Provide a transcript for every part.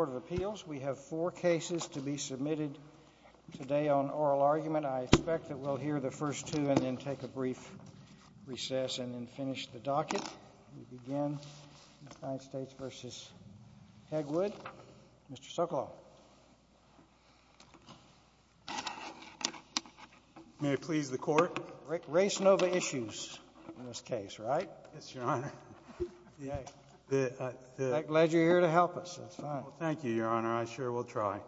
of appeals. We have four cases to be submitted today on oral argument. I expect that we'll hear the first two and then take a brief recess and then finish the docket. We begin in the United States v. Hegwood. Mr. Sokoloff. May I please the court? Race Nova issues in this case. Thank you, Your Honor. I sure will try.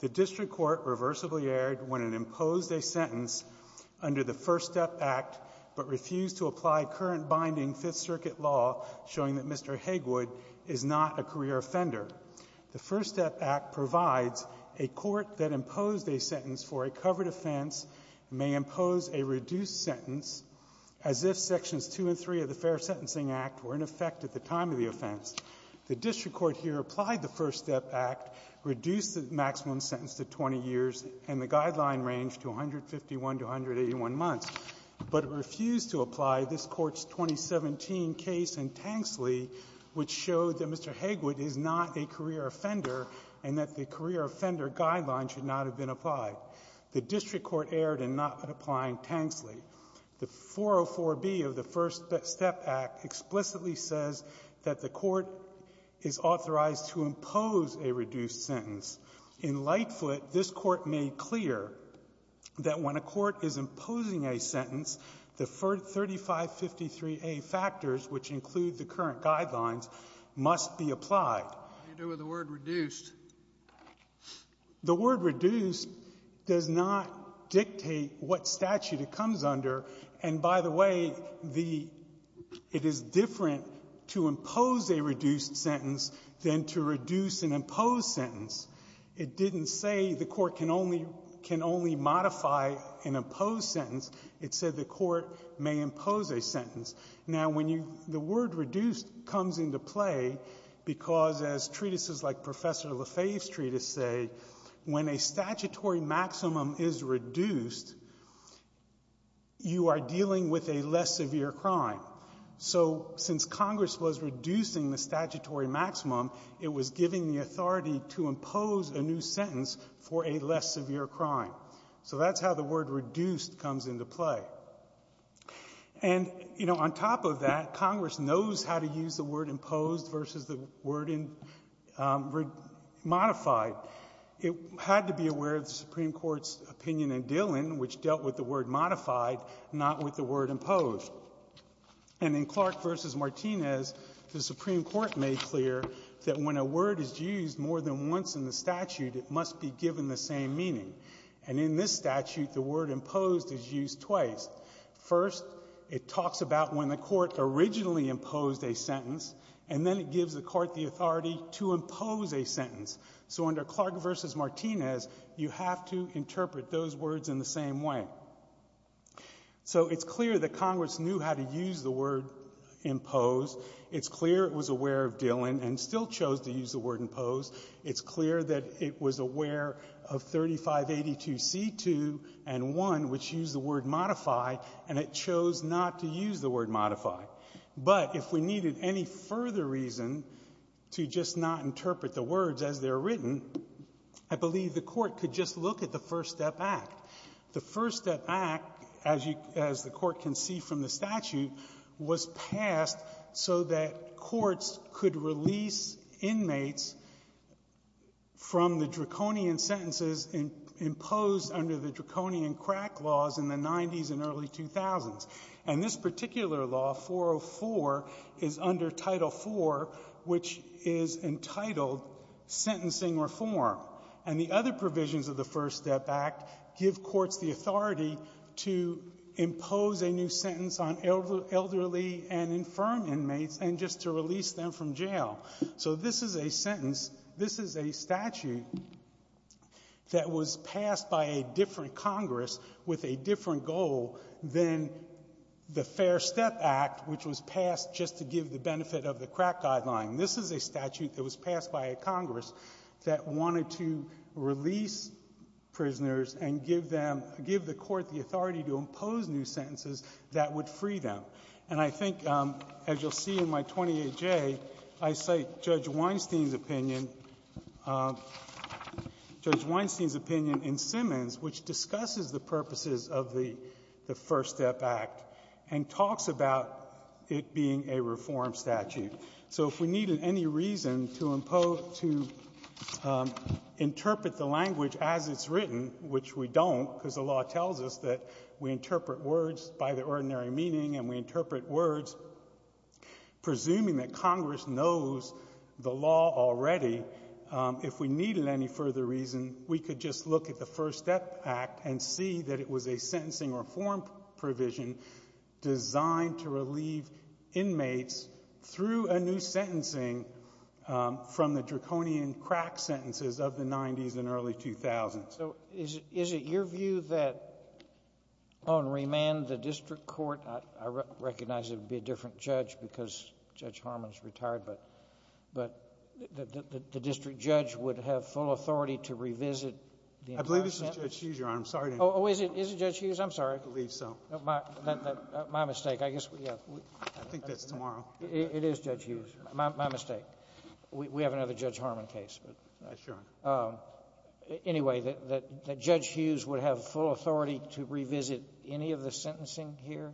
The district court reversibly erred when it imposed a sentence under the First Step Act but refused to apply current binding Fifth Circuit law showing that Mr. Hegwood is not a career offender. The First Step Act provides a court that imposed a sentence for a covered offense may impose a reduced sentence as if Sections 2 and 3 of the Fair Sentencing Act were in effect at the time of the offense. The district court here applied the First Step Act, reduced the maximum sentence to 20 years, and the guideline range to 151 to 181 months, but refused to apply this Court's 2017 case in Tanksley, which showed that Mr. Hegwood is not a career offender and that the career offender guideline should not have been applied. The district court erred in not applying Tanksley. The 404B of the First Step Act explicitly says that the court is authorized to impose a reduced sentence. In Lightfoot, this Court made clear that when a court is imposing a sentence, the 3553A factors, which include the current guidelines, must be applied. What do you do with the word reduced? The word reduced does not dictate what statute it comes under. And by the way, the — it is different to impose a reduced sentence than to reduce an imposed sentence. It didn't say the court can only — can only modify an imposed sentence. It said the court may impose a sentence. Now, when you — the word reduced comes into play because, as treatises like Professor Lefebvre's treatise say, when a statutory maximum is reduced, you are dealing with a less severe crime. So since Congress was reducing the statutory maximum, it was giving the authority to impose a new sentence for a less severe crime. So that's how the word reduced comes into play. And, you know, on top of that, Congress knows how to use the word imposed versus the word modified. It had to be aware of the Supreme Court's opinion in Dillon, which dealt with the word modified, not with the word imposed. And in Clark v. Martinez, the Supreme Court made clear that when a word is used more than once in the statute, it must be given the same meaning. And in this statute, the word imposed is used twice. First, it talks about when the court originally imposed a sentence, and then it gives the court the authority to impose a sentence. So under Clark v. Martinez, you have to interpret those words in the same way. So it's clear that Congress knew how to use the word imposed. It's clear it was aware of Dillon and still chose to use the word imposed. It's clear that it was aware of 3582C2 and 1, which use the word modify, and it chose not to use the word modify. But if we needed any further reason to just not interpret the words as they're written, I believe the court could just look at the First Step Act. The First Step Act, as you — as the court can see from the statute, was passed so that courts could release inmates from the draconian sentences imposed under the draconian crack laws in the 90s and early 2000s. And this particular law, 404, is under Title IV, which is entitled sentencing reform. And the other provisions of the First Step Act give courts the authority to impose a new sentence on elderly and infirm inmates and just to release them from jail. So this is a sentence — this is a statute that was passed by Congress with a different goal than the Fair Step Act, which was passed just to give the benefit of the crack guideline. This is a statute that was passed by a Congress that wanted to release prisoners and give them — give the court the authority to impose new sentences that would free them. And I think, as you'll see in my 28J, I cite Judge Weinstein's opinion — Judge Weinstein's opinion on the purposes of the — the First Step Act and talks about it being a reform statute. So if we needed any reason to impose — to interpret the language as it's written, which we don't because the law tells us that we interpret words by their ordinary meaning and we interpret words presuming that Congress knows the law already, if we needed any further reason, we could just look at the First Step Act and see that it was a sentencing reform provision designed to relieve inmates through a new sentencing from the draconian crack sentences of the 90s and early 2000s. So is it your view that on remand the district court — I recognize it would be a different judge because Judge Harman's retired, but — but the district judge would have full authority to revisit the entire sentence? I believe this is Judge Hughes, Your Honor. I'm sorry to interrupt. Oh, is it? Is it Judge Hughes? I'm sorry. I believe so. My — my mistake. I guess we have — I think that's tomorrow. It is Judge Hughes. My mistake. We have another Judge Harman case. But anyway, that Judge Hughes would have full authority to revisit any of the sentencing here,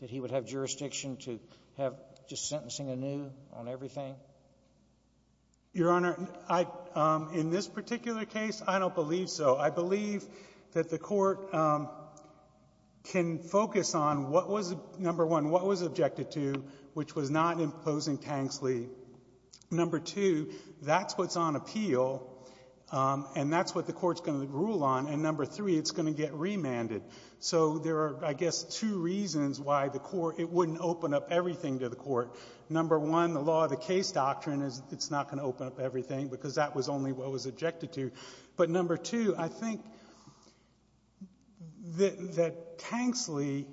that he would have jurisdiction to have just sentencing anew on everything? Your Honor, I — in this particular case, I don't believe so. I believe that the Court can focus on what was — number one, what was objected to, which was not imposing Tanksley. Number two, that's what's on appeal, and that's what the Court's going to rule on. And number three, it's going to get remanded. So there are, I guess, two reasons why the Court — it wouldn't open up everything to the Court. Number one, the law of the case doctrine is it's not going to open up everything, because that was only what was objected to. But number two, I think that — that Tanksley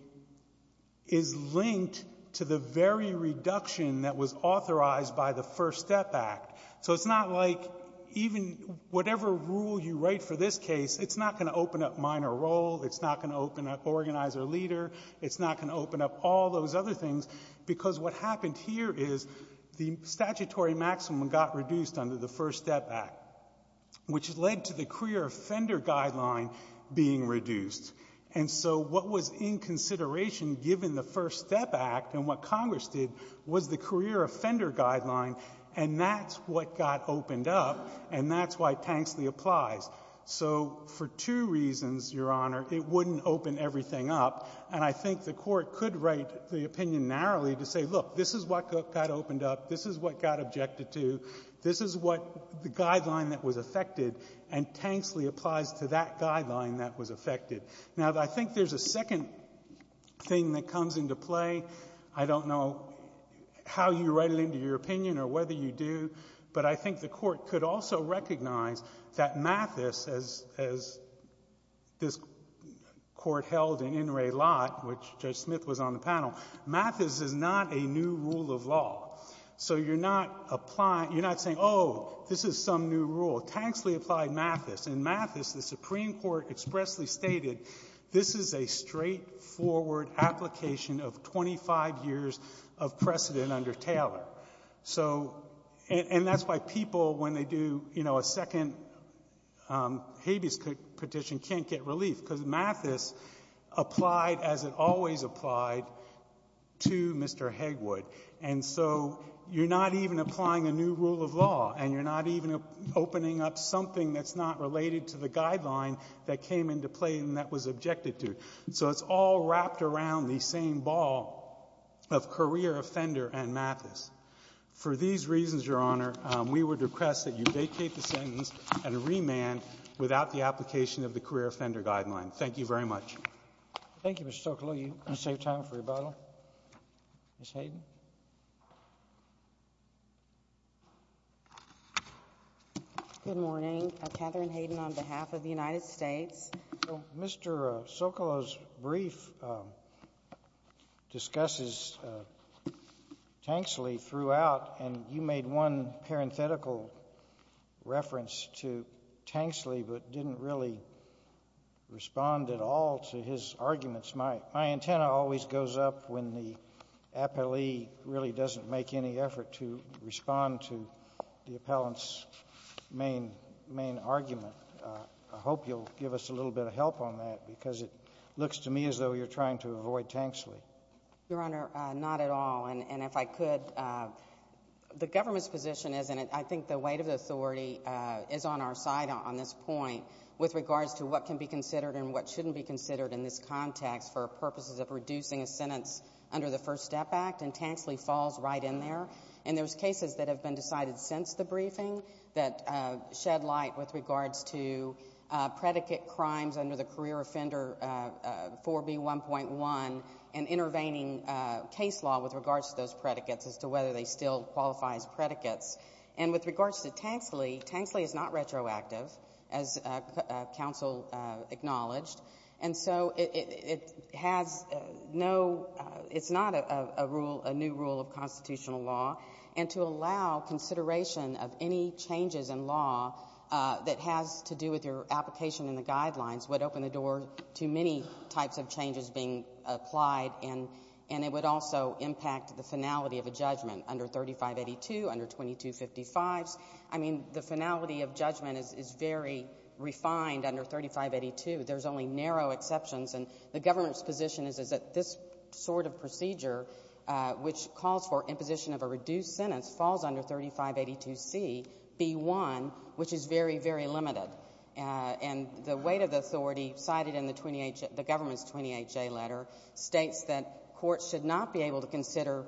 is linked to the very reduction that was authorized by the First Step Act. So it's not like even whatever rule you write for this case, it's not going to open up minor role. It's not going to open up organizer leader. It's not going to open up all those other things, because what happened here is the statutory maximum got reduced under the First Step Act, which led to the career offender guideline being reduced. And so what was in consideration, given the First Step Act and what Congress did, was the career offender guideline, and that's what got opened up, and that's why Tanksley applies. So for two reasons, Your Honor, it wouldn't open everything up. And I think the Court could write the opinion narrowly to say, look, this is what got opened up. This is what got objected to. This is what the guideline that was affected, and Tanksley applies to that guideline that was affected. Now, I think there's a second thing that comes into play. I don't know how you write it into your opinion or whether you do, but I think the Court could also recognize that Mathis, as this Court held in In re Lot, which Judge Smith was on the panel, Mathis is not a new rule of law. So you're not applying — you're not saying, oh, this is some new rule. Tanksley applied Mathis, and Mathis, the Supreme Court expressly stated, this is a straightforward application of 25 years of precedent under Taylor. So — and that's why people, when they do, you know, a second habeas petition, can't get relief, because Mathis applied as it always applied to Mr. Hegwood. And so you're not even applying a new rule of law, and you're not even opening up something that's not related to the guideline that came into play and that was objected to. So it's all wrapped around the same ball of career offender and Mathis. For these reasons, Your Honor, we would request that you vacate the sentence and remand without the application of the career offender guideline. Thank you very much. Thank you, Mr. Socolow. You can save time for rebuttal. Ms. Hayden. Good morning. Katherine Hayden on behalf of the United States. Mr. Socolow's brief discusses Tanksley throughout, and you made one parenthetical reference to Tanksley, but didn't really respond at all to his arguments. My antenna always goes up when the appellee really doesn't make any effort to respond to the appellant's main argument. I hope you'll give us a little bit of help on that, because it looks to me as though you're trying to avoid Tanksley. Your Honor, not at all, and if I could, the government's position is, and I think the weight of the authority is on our side on this point, with regards to what can be considered and what shouldn't be considered in this context for purposes of reducing a sentence under the First Step Act, and Tanksley falls right in there. And there's cases that have been decided since the briefing that shed light with regards to predicate crimes under the Career Offender 4B1.1 and intervening case law with regards to those predicates as to whether they still qualify as predicates. And with regards to Tanksley, Tanksley is not retroactive, as counsel acknowledged, and so it has no, it's not a new rule of constitutional law, and to allow consideration of any changes in law that has to do with your application and the guidelines would open the door to many types of changes being applied, and it would also impact the finality of a judgment under 3582, under 2255. I mean, the finality of judgment is very refined under 3582. There's only narrow exceptions, and the government's position is that this sort of procedure, which calls for imposition of a reduced sentence, falls under 3582CB1, which is very, very limited. And the weight of the authority cited in the government's 28J letter states that courts should not be able to consider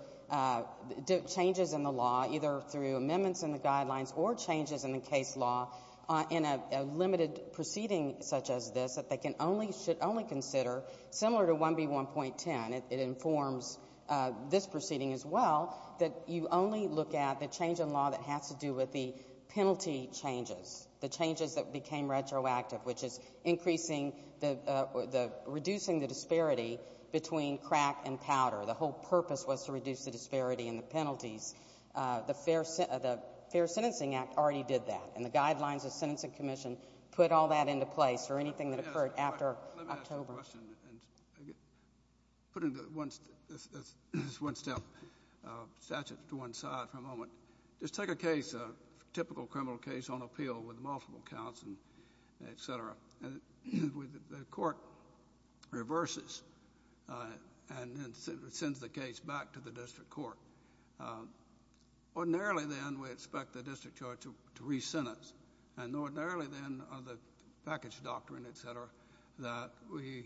changes in the law either through amendments in the guidelines or changes in the case law in a limited proceeding such as this that they can only, should only consider similar to 1B1.10. It informs this proceeding as well, that you only look at the change in law that has to do with the penalty changes, the changes that became retroactive, which is increasing the, reducing the disparity between crack and powder. The whole purpose was to reduce the disparity in the penalties. The Fair Sentencing Act already did that, and the guidelines of the Sentencing Commission October. Let me ask a question, and put into one, this is one step, statutes to one side for a moment. Just take a case, a typical criminal case on appeal with multiple counts and et cetera. And the court reverses, and then sends the case back to the district court. Ordinarily then, we expect the district court to rescind us. And ordinarily then, the package doctrine, et cetera, that we,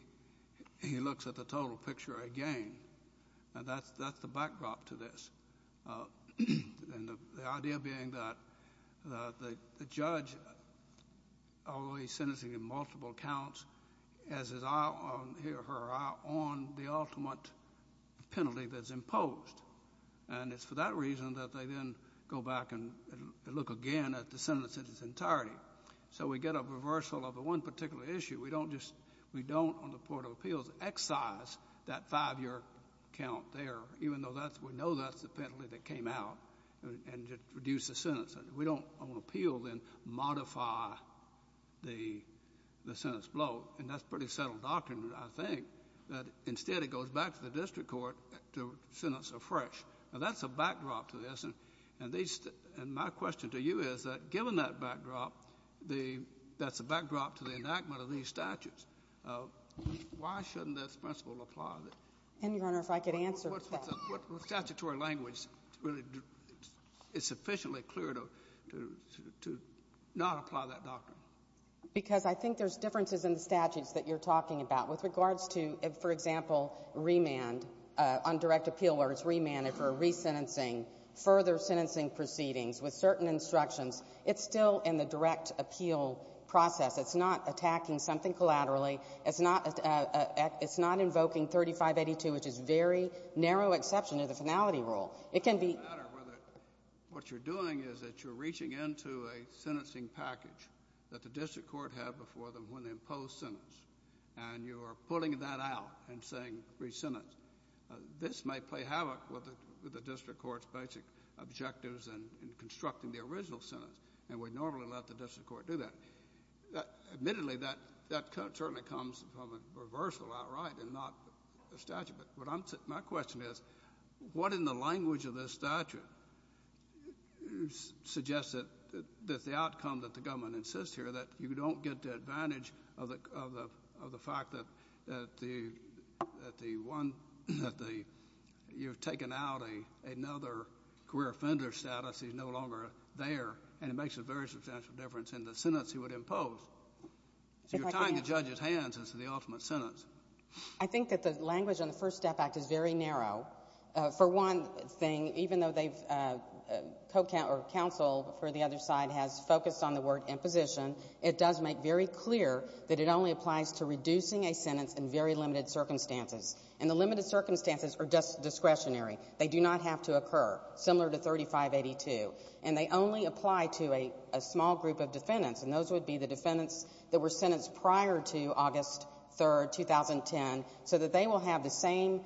he looks at the total picture again. And that's, that's the backdrop to this. And the, the idea being that, that the, the judge, although he's sentencing in multiple counts, has his eye on, he or her eye on the ultimate penalty that's imposed. And it's for that reason that they then go back and look again at the sentence in its entirety. So we get a reversal of the one particular issue. We don't just, we don't on the court of appeals excise that five-year count there, even though that's, we know that's the penalty that came out, and just reduce the sentence. And we don't on appeal then modify the, the sentence blow. And that's pretty settled doctrine, I think. That instead it goes back to the district court to sentence afresh. Now that's a backdrop to this. And these, and my question to you is that given that backdrop, the, that's a backdrop to the enactment of these statutes. Why shouldn't this principle apply? And Your Honor, if I could answer that. What statutory language really is sufficiently clear to, to, to not apply that doctrine? Because I think there's differences in the statutes that you're talking about. With regards to, for example, remand on direct appeal, where it's remanded for resentencing, further sentencing proceedings with certain instructions. It's still in the direct appeal process. It's not attacking something collaterally. It's not, it's not invoking 3582, which is very narrow exception to the finality rule. It can be. It doesn't matter whether, what you're doing is that you're reaching into a sentencing package that the district court had before them when they imposed sentence. And you are pulling that out and saying, re-sentence. This may play havoc with the, with the district court's basic objectives and, and constructing the original sentence. And we normally let the district court do that. Admittedly, that, that certainly comes from a reversal outright and not a statute. But what I'm, my question is, what in the language of this statute suggests that, that the outcome that the government insists here, that you don't get the advantage of the, of the, of the fact that, that the, that the one, that the, you've taken out a, another career offender status. He's no longer there. And it makes a very substantial difference in the sentence he would impose. So you're tying the judge's hands into the ultimate sentence. I think that the language on the First Step Act is very narrow. For one thing, even though they've co-coun, or counsel for the other side has focused on the word imposition, it does make very clear that it only applies to reducing a sentence in very limited circumstances. And the limited circumstances are just discretionary. They do not have to occur, similar to 3582. And they only apply to a, a small group of defendants, and those would be the defendants that were sentenced prior to August 3rd, 2010, so that they will have the same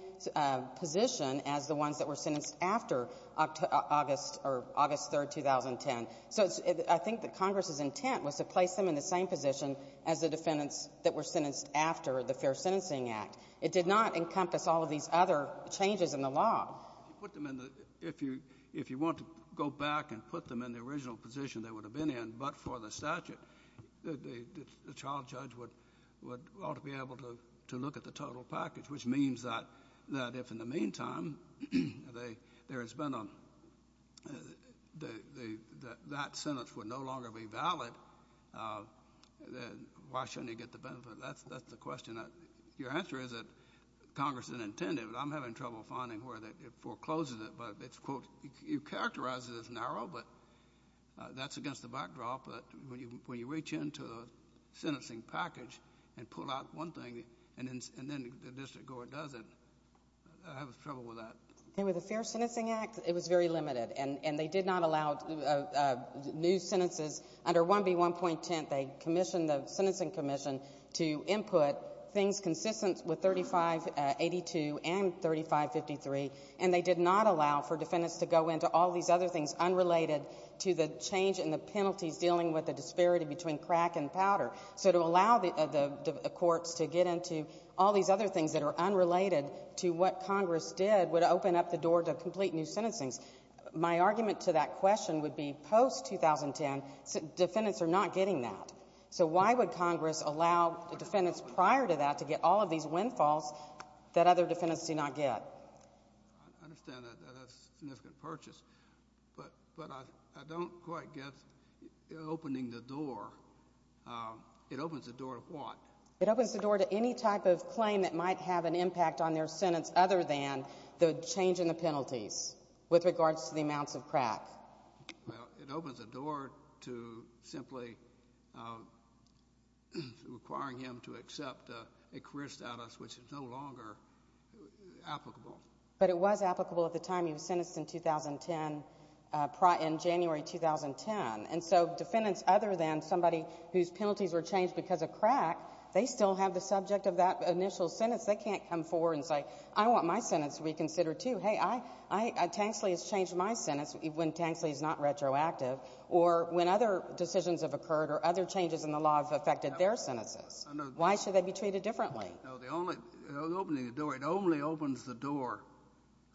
position as the ones that were sentenced after August, or August 3rd, 2010. So it's, I think that Congress's intent was to place them in the same position as the defendants that were sentenced after the Fair Sentencing Act. It did not encompass all of these other changes in the law. If you put them in the, if you, if you want to go back and put them in the original position they would have been in, but for the statute, the, the, the child judge would, would ought to be able to, to look at the total package, which means that, that if in the meantime, they, there has been a, the, the, the, that sentence would no longer be valid, then why shouldn't you get the benefit? That's, that's the question that, your answer is that Congress didn't intend it, but I'm having trouble finding where that, it forecloses it. But it's quote, you characterize it as narrow, but that's against the backdrop. But when you, when you reach into the sentencing package and pull out one thing and then, and then the district court does it, I have trouble with that. And with the Fair Sentencing Act, it was very limited and, and they did not allow new sentences under 1B1.10, they commissioned the Sentencing Commission to input things consistent with 3582 and 3553, and they did not allow for defendants to go into all these other things unrelated to the change in the penalties dealing with the disparity between crack and powder. So to allow the, the, the courts to get into all these other things that are unrelated to what Congress did would open up the door to complete new sentencing. My argument to that question would be post 2010, defendants are not getting that. So why would Congress allow the defendants prior to that to get all of these windfalls that other defendants do not get? I, I understand that, that, that's a significant purchase. But, but I, I don't quite get opening the door. It opens the door to what? It opens the door to any type of claim that might have an impact on their sentence other than the change in the penalties with regards to the amounts of crack. Well, it opens the door to simply requiring him to accept a career status which is no longer applicable. But it was applicable at the time he was sentenced in 2010, in January 2010. And so defendants other than somebody whose penalties were changed because of crack, they still have the subject of that initial sentence. They can't come forward and say, I want my sentence reconsidered too. Hey, I, I, I, Tanksley has changed my sentence when Tanksley is not retroactive or when other decisions have occurred or other changes in the law have affected their sentences. Why should they be treated differently? No, the only, opening the door, it only opens the door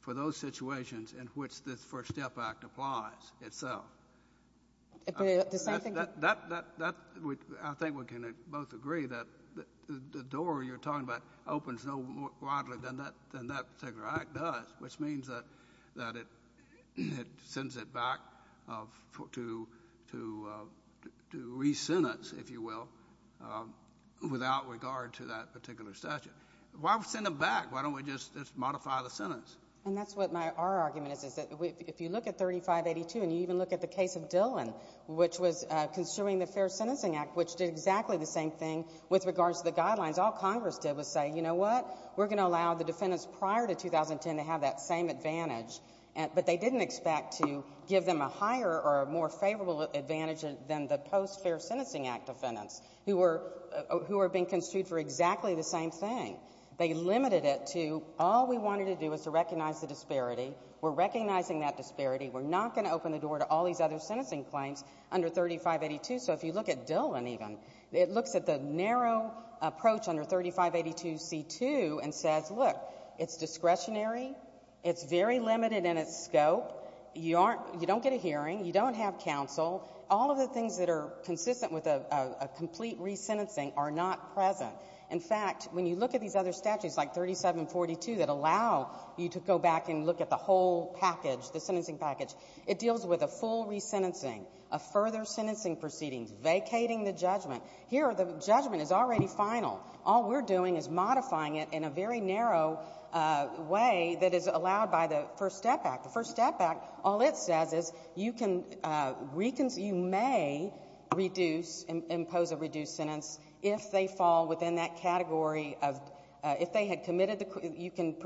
for those situations in which the FIRST STEP Act applies itself. The same thing? That, that, that, I think we can both agree that the door you're talking about opens no more widely than that, than that particular Act does, which means that, that it, it sends it back of, to, to, to re-sentence, if you will, without regard to that particular statute. Why send it back? Why don't we just, just modify the sentence? And that's what my, our argument is, is that we, if you look at 3582 and you even look at the case of Dillon, which was construing the Fair Sentencing Act, which did exactly the same thing with regards to the guidelines. All Congress did was say, you know what? We're going to allow the defendants prior to 2010 to have that same advantage. But they didn't expect to give them a higher or a more favorable advantage than the post-Fair Sentencing Act defendants, who were, who were being construed for exactly the same thing. They limited it to, all we wanted to do was to recognize the disparity. We're recognizing that disparity. We're not going to open the door to all these other sentencing claims under 3582. So if you look at Dillon even, it looks at the narrow approach under 3582c2 and says, look, it's discretionary. It's very limited in its scope. You aren't, you don't get a hearing. You don't have counsel. All of the things that are consistent with a, a, a complete re-sentencing are not present. In fact, when you look at these other statutes, like 3742, that allow you to go back and look at the whole package, the sentencing package, it deals with a full re-sentencing, a further sentencing proceeding, vacating the judgment. Here, the judgment is already final. All we're doing is modifying it in a very narrow way that is allowed by the First Step Act. The First Step Act, all it says is, you can, we can, you may reduce, impose a reduced sentence if they fall within that category of, if they had committed the, you can,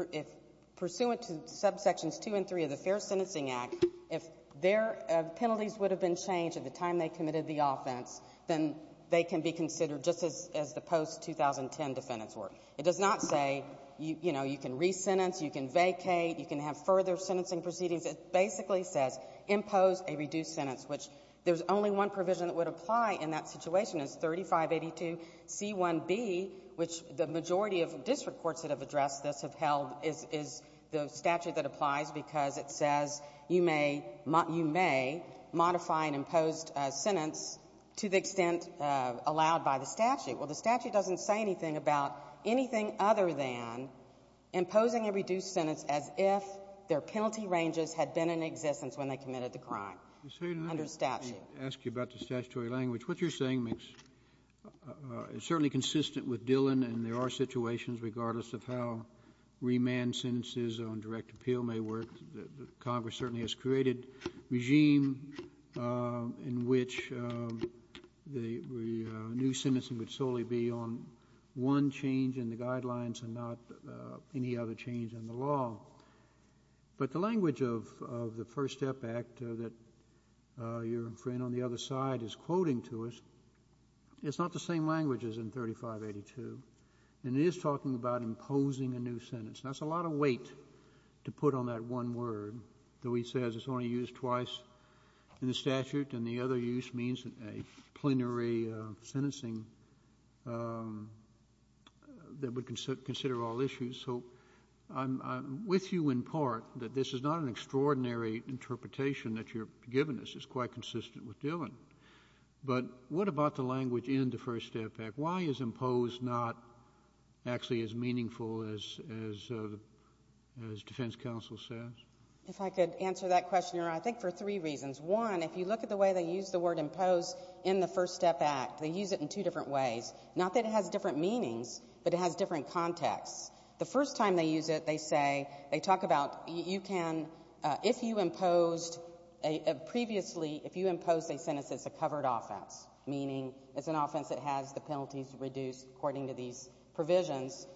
pursuant to subsections 2 and 3 of the Fair Sentencing Act, if their penalties would have been changed at the time they committed the offense, then they can be considered just as, as the post-2010 defendants were. It does not say, you know, you can re-sentence, you can vacate, you can have further sentencing proceedings. It basically says, impose a reduced sentence, which there's only one provision that would apply in that situation, it's 3582c1b, which the majority of district courts that have addressed this have held is, is the statute that applies because it says you may, you may modify an imposed sentence to the extent allowed by the statute. Well, the statute doesn't say anything about anything other than imposing a reduced sentence as if their penalty ranges had been in existence when they committed the crime under statute. I'll ask you about the statutory language. What you're saying makes, is certainly consistent with Dillon, and there are situations regardless of how remand sentences on direct appeal may work. Congress certainly has created regime in which the new sentencing would solely be on one change in the guidelines and not any other change in the law. But the language of, of the First Step Act that your friend on the other side is quoting to us, it's not the same language as in 3582, and it is talking about imposing a new sentence. Now, it's a lot of weight to put on that one word, though he says it's only used twice in the statute, and the other use means a plenary sentencing that would consider with you in part that this is not an extraordinary interpretation that you're giving us. It's quite consistent with Dillon. But what about the language in the First Step Act? Why is imposed not actually as meaningful as, as, as defense counsel says? If I could answer that question, Your Honor, I think for three reasons. One, if you look at the way they use the word imposed in the First Step Act, they use it in two different ways. Not that it has different meanings, but it has different contexts. The first time they use it, they say, they talk about you can, if you imposed a, previously, if you imposed a sentence that's a covered offense, meaning it's an offense that has the penalties reduced according to these provisions,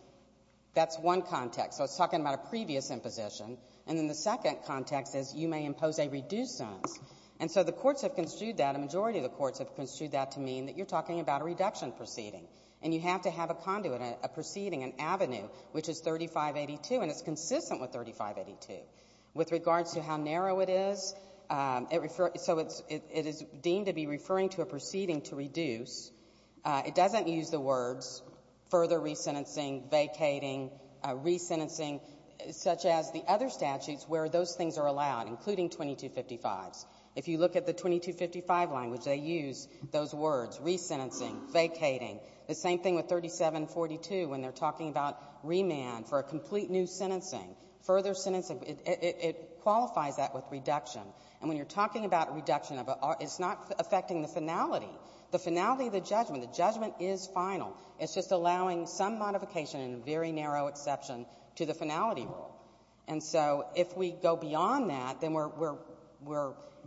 that's one context. So it's talking about a previous imposition. And then the second context is you may impose a reduced sentence. And so the courts have construed that, a majority of the courts have construed that to mean that you're talking about a reduction proceeding, and you have to have a conduit, a proceeding, an avenue, which is 3582. And it's consistent with 3582. With regards to how narrow it is, so it is deemed to be referring to a proceeding to reduce. It doesn't use the words further re-sentencing, vacating, re-sentencing, such as the other statutes where those things are allowed, including 2255s. If you look at the 2255 language, they use those words, re-sentencing, vacating. The same thing with 3742 when they're talking about remand for a complete new sentencing, further sentencing. It qualifies that with reduction. And when you're talking about reduction, it's not affecting the finality. The finality of the judgment, the judgment is final. It's just allowing some modification and a very narrow exception to the finality rule. And so if we go beyond that, then we're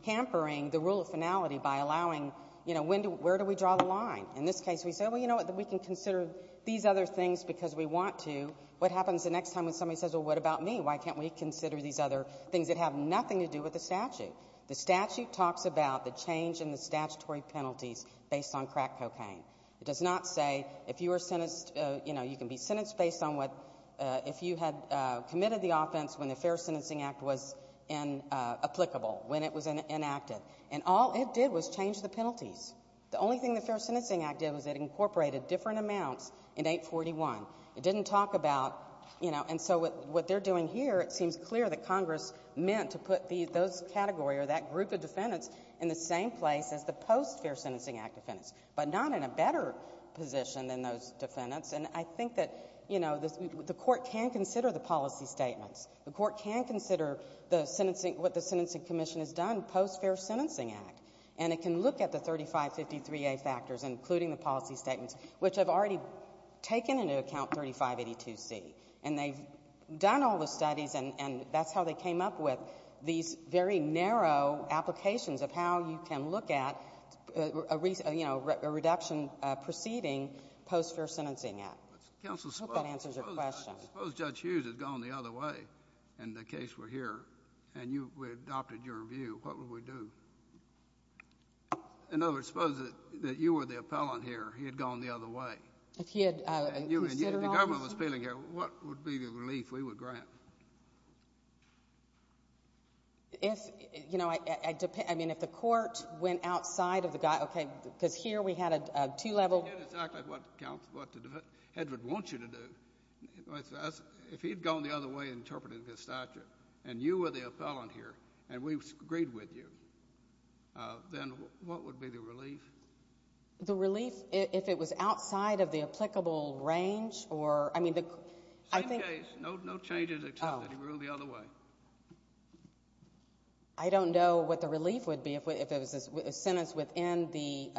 hampering the rule of finality by allowing, you know, when do we draw the line. In this case, we said, well, you know what, we can consider these other things because we want to. What happens the next time when somebody says, well, what about me? Why can't we consider these other things that have nothing to do with the statute? The statute talks about the change in the statutory penalties based on crack cocaine. It does not say if you were sentenced, you know, you can be sentenced based on what — if you had committed the offense when the Fair Sentencing Act was applicable, when it was enacted. And all it did was change the penalties. The only thing the Fair Sentencing Act did was it incorporated different amounts in 841. It didn't talk about, you know — and so what they're doing here, it seems clear that Congress meant to put those categories or that group of defendants in the same place as the post-Fair Sentencing Act defendants, but not in a better position than those defendants. And I think that, you know, the Court can consider the policy statements. The Court can consider the sentencing — what the Sentencing Commission has done post-Fair Sentencing Act. And it can look at the 3553A factors, including the policy statements, which have already taken into account 3582C. And they've done all the studies, and that's how they came up with these very narrow applications of how you can look at a — you know, a reduction preceding post-Fair Sentencing Act. I hope that answers your question. Suppose Judge Hughes had gone the other way, and the case were here, and you — we — in other words, suppose that you were the appellant here, he had gone the other way. If he had considered all of this — If the government was appealing here, what would be the relief we would grant? If — you know, I — I mean, if the Court went outside of the — okay, because here we had a two-level — We did exactly what the defense — what the defense — Hedgwood wants you to do. If he had gone the other way and interpreted the statute, and you were the appellant here, and we agreed with you, then what would be the relief? The relief, if it was outside of the applicable range, or — I mean, the — Same case. No changes except that he went the other way. I don't know what the relief would be if it was a sentence within the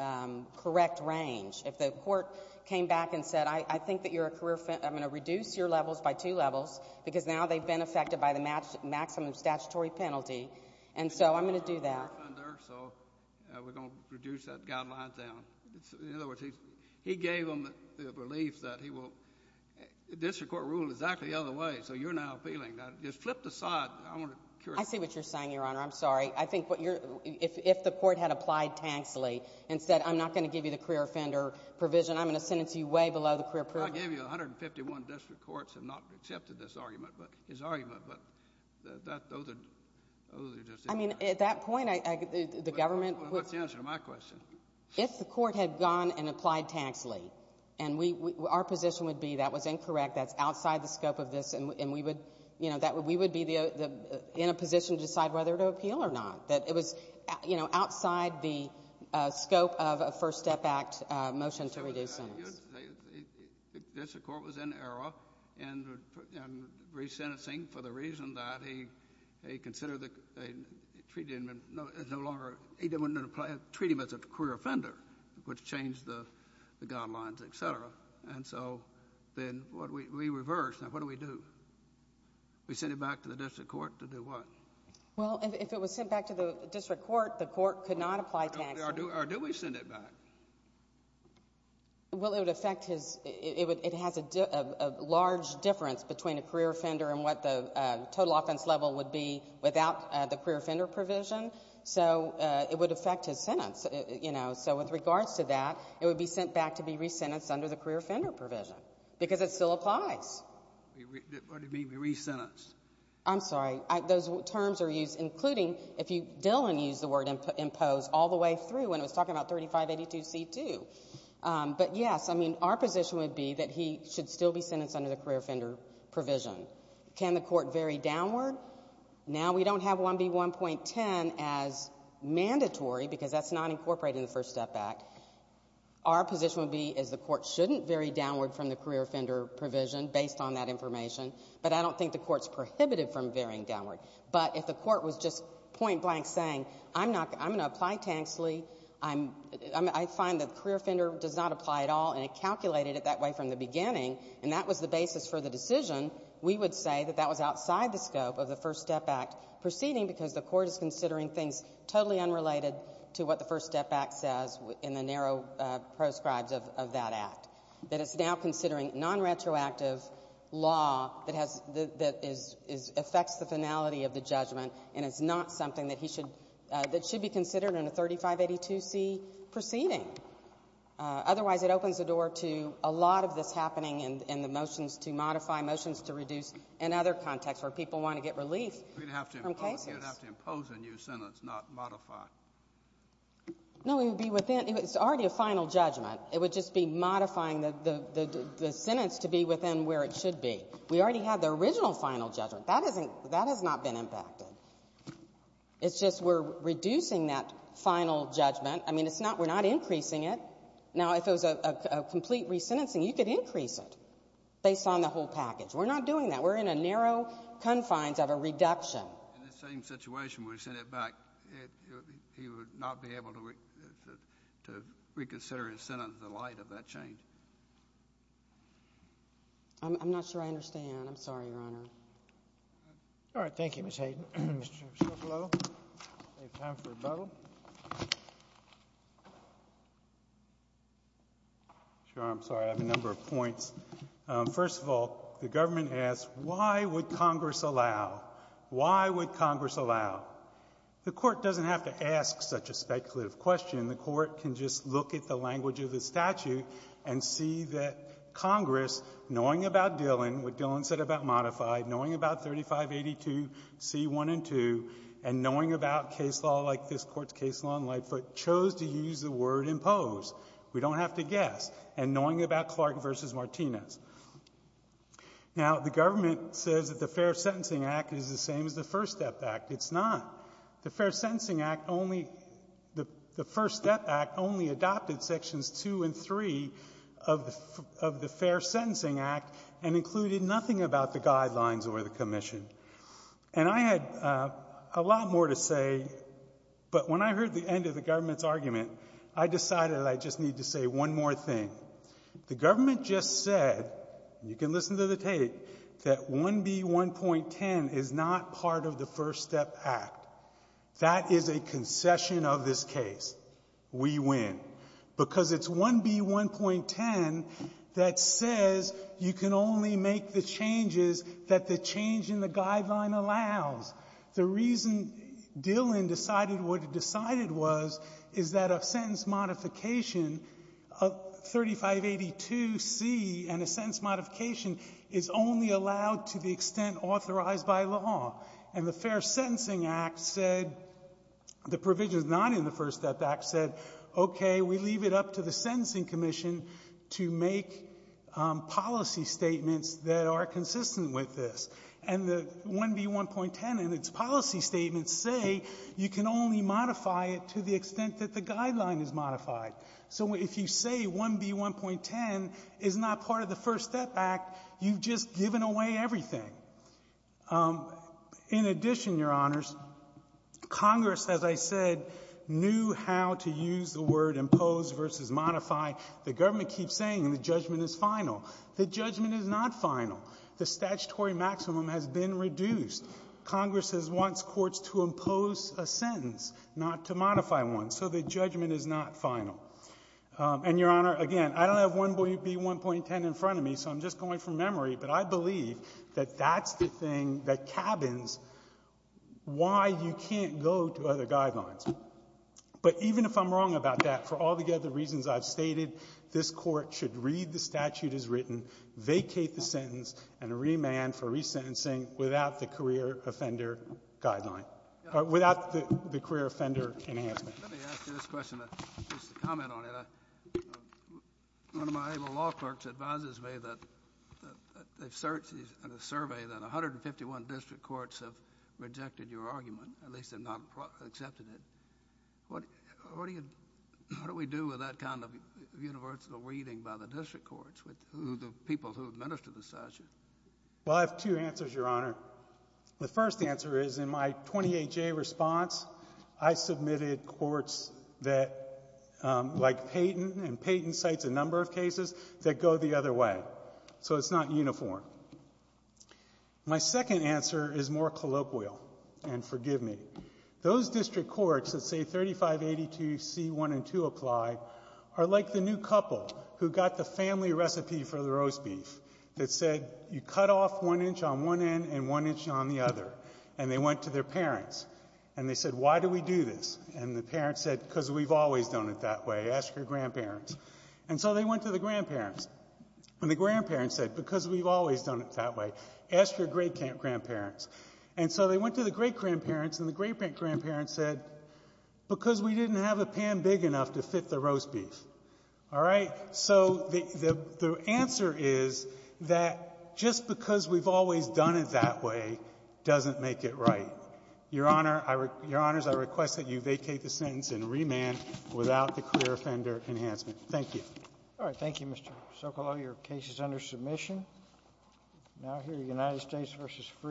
correct range. If the Court came back and said, I think that you're a career — I'm going to reduce your levels by two levels because now they've been affected by the maximum statutory penalty. And so I'm going to do that. You're a career offender, so we're going to reduce that guideline down. In other words, he's — he gave them the relief that he will — the district court ruled exactly the other way, so you're now appealing that. Just flip the side. I want to curate — I see what you're saying, Your Honor. I'm sorry. I think what you're — if the Court had applied taxly and said, I'm not going to give you the career offender provision, I'm going to sentence you way below the career provision. I'll give you — 151 district courts have not accepted this argument, but — his argument, but that — those are — those are just — I mean, at that point, I — the government — Well, what's the answer to my question? If the Court had gone and applied taxly, and we — our position would be that was incorrect, that's outside the scope of this, and we would — you know, that — we would be the — in a position to decide whether to appeal or not, that it was, you know, outside the scope of a First Step Act motion to reduce sentence. Well, you have to say that the district court was in error in re-sentencing for the reason that he considered the — treated him as no longer — he didn't want to treat him as a career offender, which changed the guidelines, et cetera. And so, then, what do we — we reversed, and what do we do? We send it back to the district court to do what? Well, if it was sent back to the district court, the court could not apply taxly. Or do we send it back? Well, it would affect his — it would — it has a large difference between a career offender and what the total offense level would be without the career offender provision. So it would affect his sentence, you know. So with regards to that, it would be sent back to be re-sentenced under the career offender provision, because it still applies. What do you mean, be re-sentenced? I'm sorry. Those terms are used, including — if you — Dillon used the word impose all the way through when he was talking about 3582C2. But yes, I mean, our position would be that he should still be sentenced under the career offender provision. Can the court vary downward? Now we don't have 1B1.10 as mandatory, because that's not incorporated in the First Step Act. Our position would be is the court shouldn't vary downward from the career offender provision based on that information. But I don't think the court's prohibited from varying downward. But if the court was just point-blank saying, I'm not — I'm going to apply Tanksley, I'm — I find the career offender does not apply at all, and it calculated it that way from the beginning, and that was the basis for the decision, we would say that that was outside the scope of the First Step Act proceeding, because the court is considering things totally unrelated to what the First Step Act says in the narrow proscribes of that act, that it's now considering nonretroactive law that has — that is — affects the finality of the judgment, and it's not something that he should — that should be considered in a 3582C proceeding. Otherwise, it opens the door to a lot of this happening in the motions to modify, motions to reduce, and other contexts where people want to get relief from cases. We'd have to impose a new sentence, not modify. No, it would be within — it's already a final judgment. It would just be modifying the sentence to be within where it should be. We already have the original final judgment. That hasn't — that has not been impacted. It's just we're reducing that final judgment. I mean, it's not — we're not increasing it. Now if it was a complete re-sentencing, you could increase it based on the whole package. We're not doing that. We're in a narrow confines of a reduction. In the same situation, we sent it back, he would not be able to reconsider his sentence in light of that change. I'm not sure I understand. I'm sorry, Your Honor. All right. Thank you, Ms. Hayden. Mr. Shklov, if you have time for a vote. Sure. I'm sorry. I have a number of points. First of all, the government asks, why would Congress allow? Why would Congress allow? The Court doesn't have to ask such a speculative question. The Court can just look at the language of the statute and see that Congress, knowing about Dillon, what Dillon said about modified, knowing about 3582c1 and 2, and knowing about case law like this Court's case law in Lightfoot, chose to use the word impose. We don't have to guess. And knowing about Clark v. Martinez. Now, the government says that the Fair Sentencing Act is the same as the First Step Act. It's not. The Fair Sentencing Act only — the First Step Act only adopted Sections 2 and 3 of the Fair Sentencing Act and included nothing about the guidelines or the commission. And I had a lot more to say, but when I heard the end of the government's argument, I decided I just need to say one more thing. The government just said — you can listen to the tape — that 1B1.10 is not part of the First Step Act. That is a concession of this case. We win. Because it's 1B1.10 that says you can only make the changes that the change in the guideline allows. The reason Dillon decided what it decided was is that a sentence modification of 3582c and a sentence modification is only allowed to the extent authorized by law. And the Fair Sentencing Act said — the provisions not in the First Step Act said, okay, we leave it up to the Sentencing Commission to make policy statements that are consistent with this. And the 1B1.10 and its policy statements say you can only modify it to the extent that the guideline is modified. So if you say 1B1.10 is not part of the First Step Act, you've just given away everything. In addition, Your Honors, Congress, as I said, knew how to use the word impose versus modify. The government keeps saying the judgment is final. The judgment is not final. The statutory maximum has been reduced. Congress wants courts to impose a sentence, not to modify one. So the judgment is not final. And, Your Honor, again, I don't have 1B1.10 in front of me, so I'm just going from that's the thing that cabins why you can't go to other guidelines. But even if I'm wrong about that, for all the other reasons I've stated, this Court should read the statute as written, vacate the sentence, and remand for resentencing without the career offender guideline — without the career offender enhancement. Let me ask you this question, just to comment on it. One of my able law clerks advises me that they've searched in a survey that 151 district courts have rejected your argument, at least have not accepted it. What do you — what do we do with that kind of universal reading by the district courts, with the people who administer the statute? Well, I have two answers, Your Honor. The first answer is, in my 28-J response, I submitted courts that — like Payton, and Payton cites a number of cases that go the other way. So it's not uniform. My second answer is more colloquial, and forgive me. Those district courts that say 3582C1 and 2 apply are like the new couple who got the family recipe for the roast beef. It said, you cut off one inch on one end and one inch on the other, and they went to their parents. And they said, why do we do this? And the parents said, because we've always done it that way. Ask your grandparents. And so they went to the grandparents, and the grandparents said, because we've always done it that way, ask your great-grandparents. And so they went to the great-grandparents, and the great-grandparents said, because we didn't have a pan big enough to fit the roast beef, all right? So the answer is that just because we've always done it that way doesn't make it right. Your Honor, I request that you vacate the sentence and remand without the career offender Thank you. SOTOMAYOR. Thank you, Mr. Sokolow. Your case is under submission. Now, here, United States v. Free.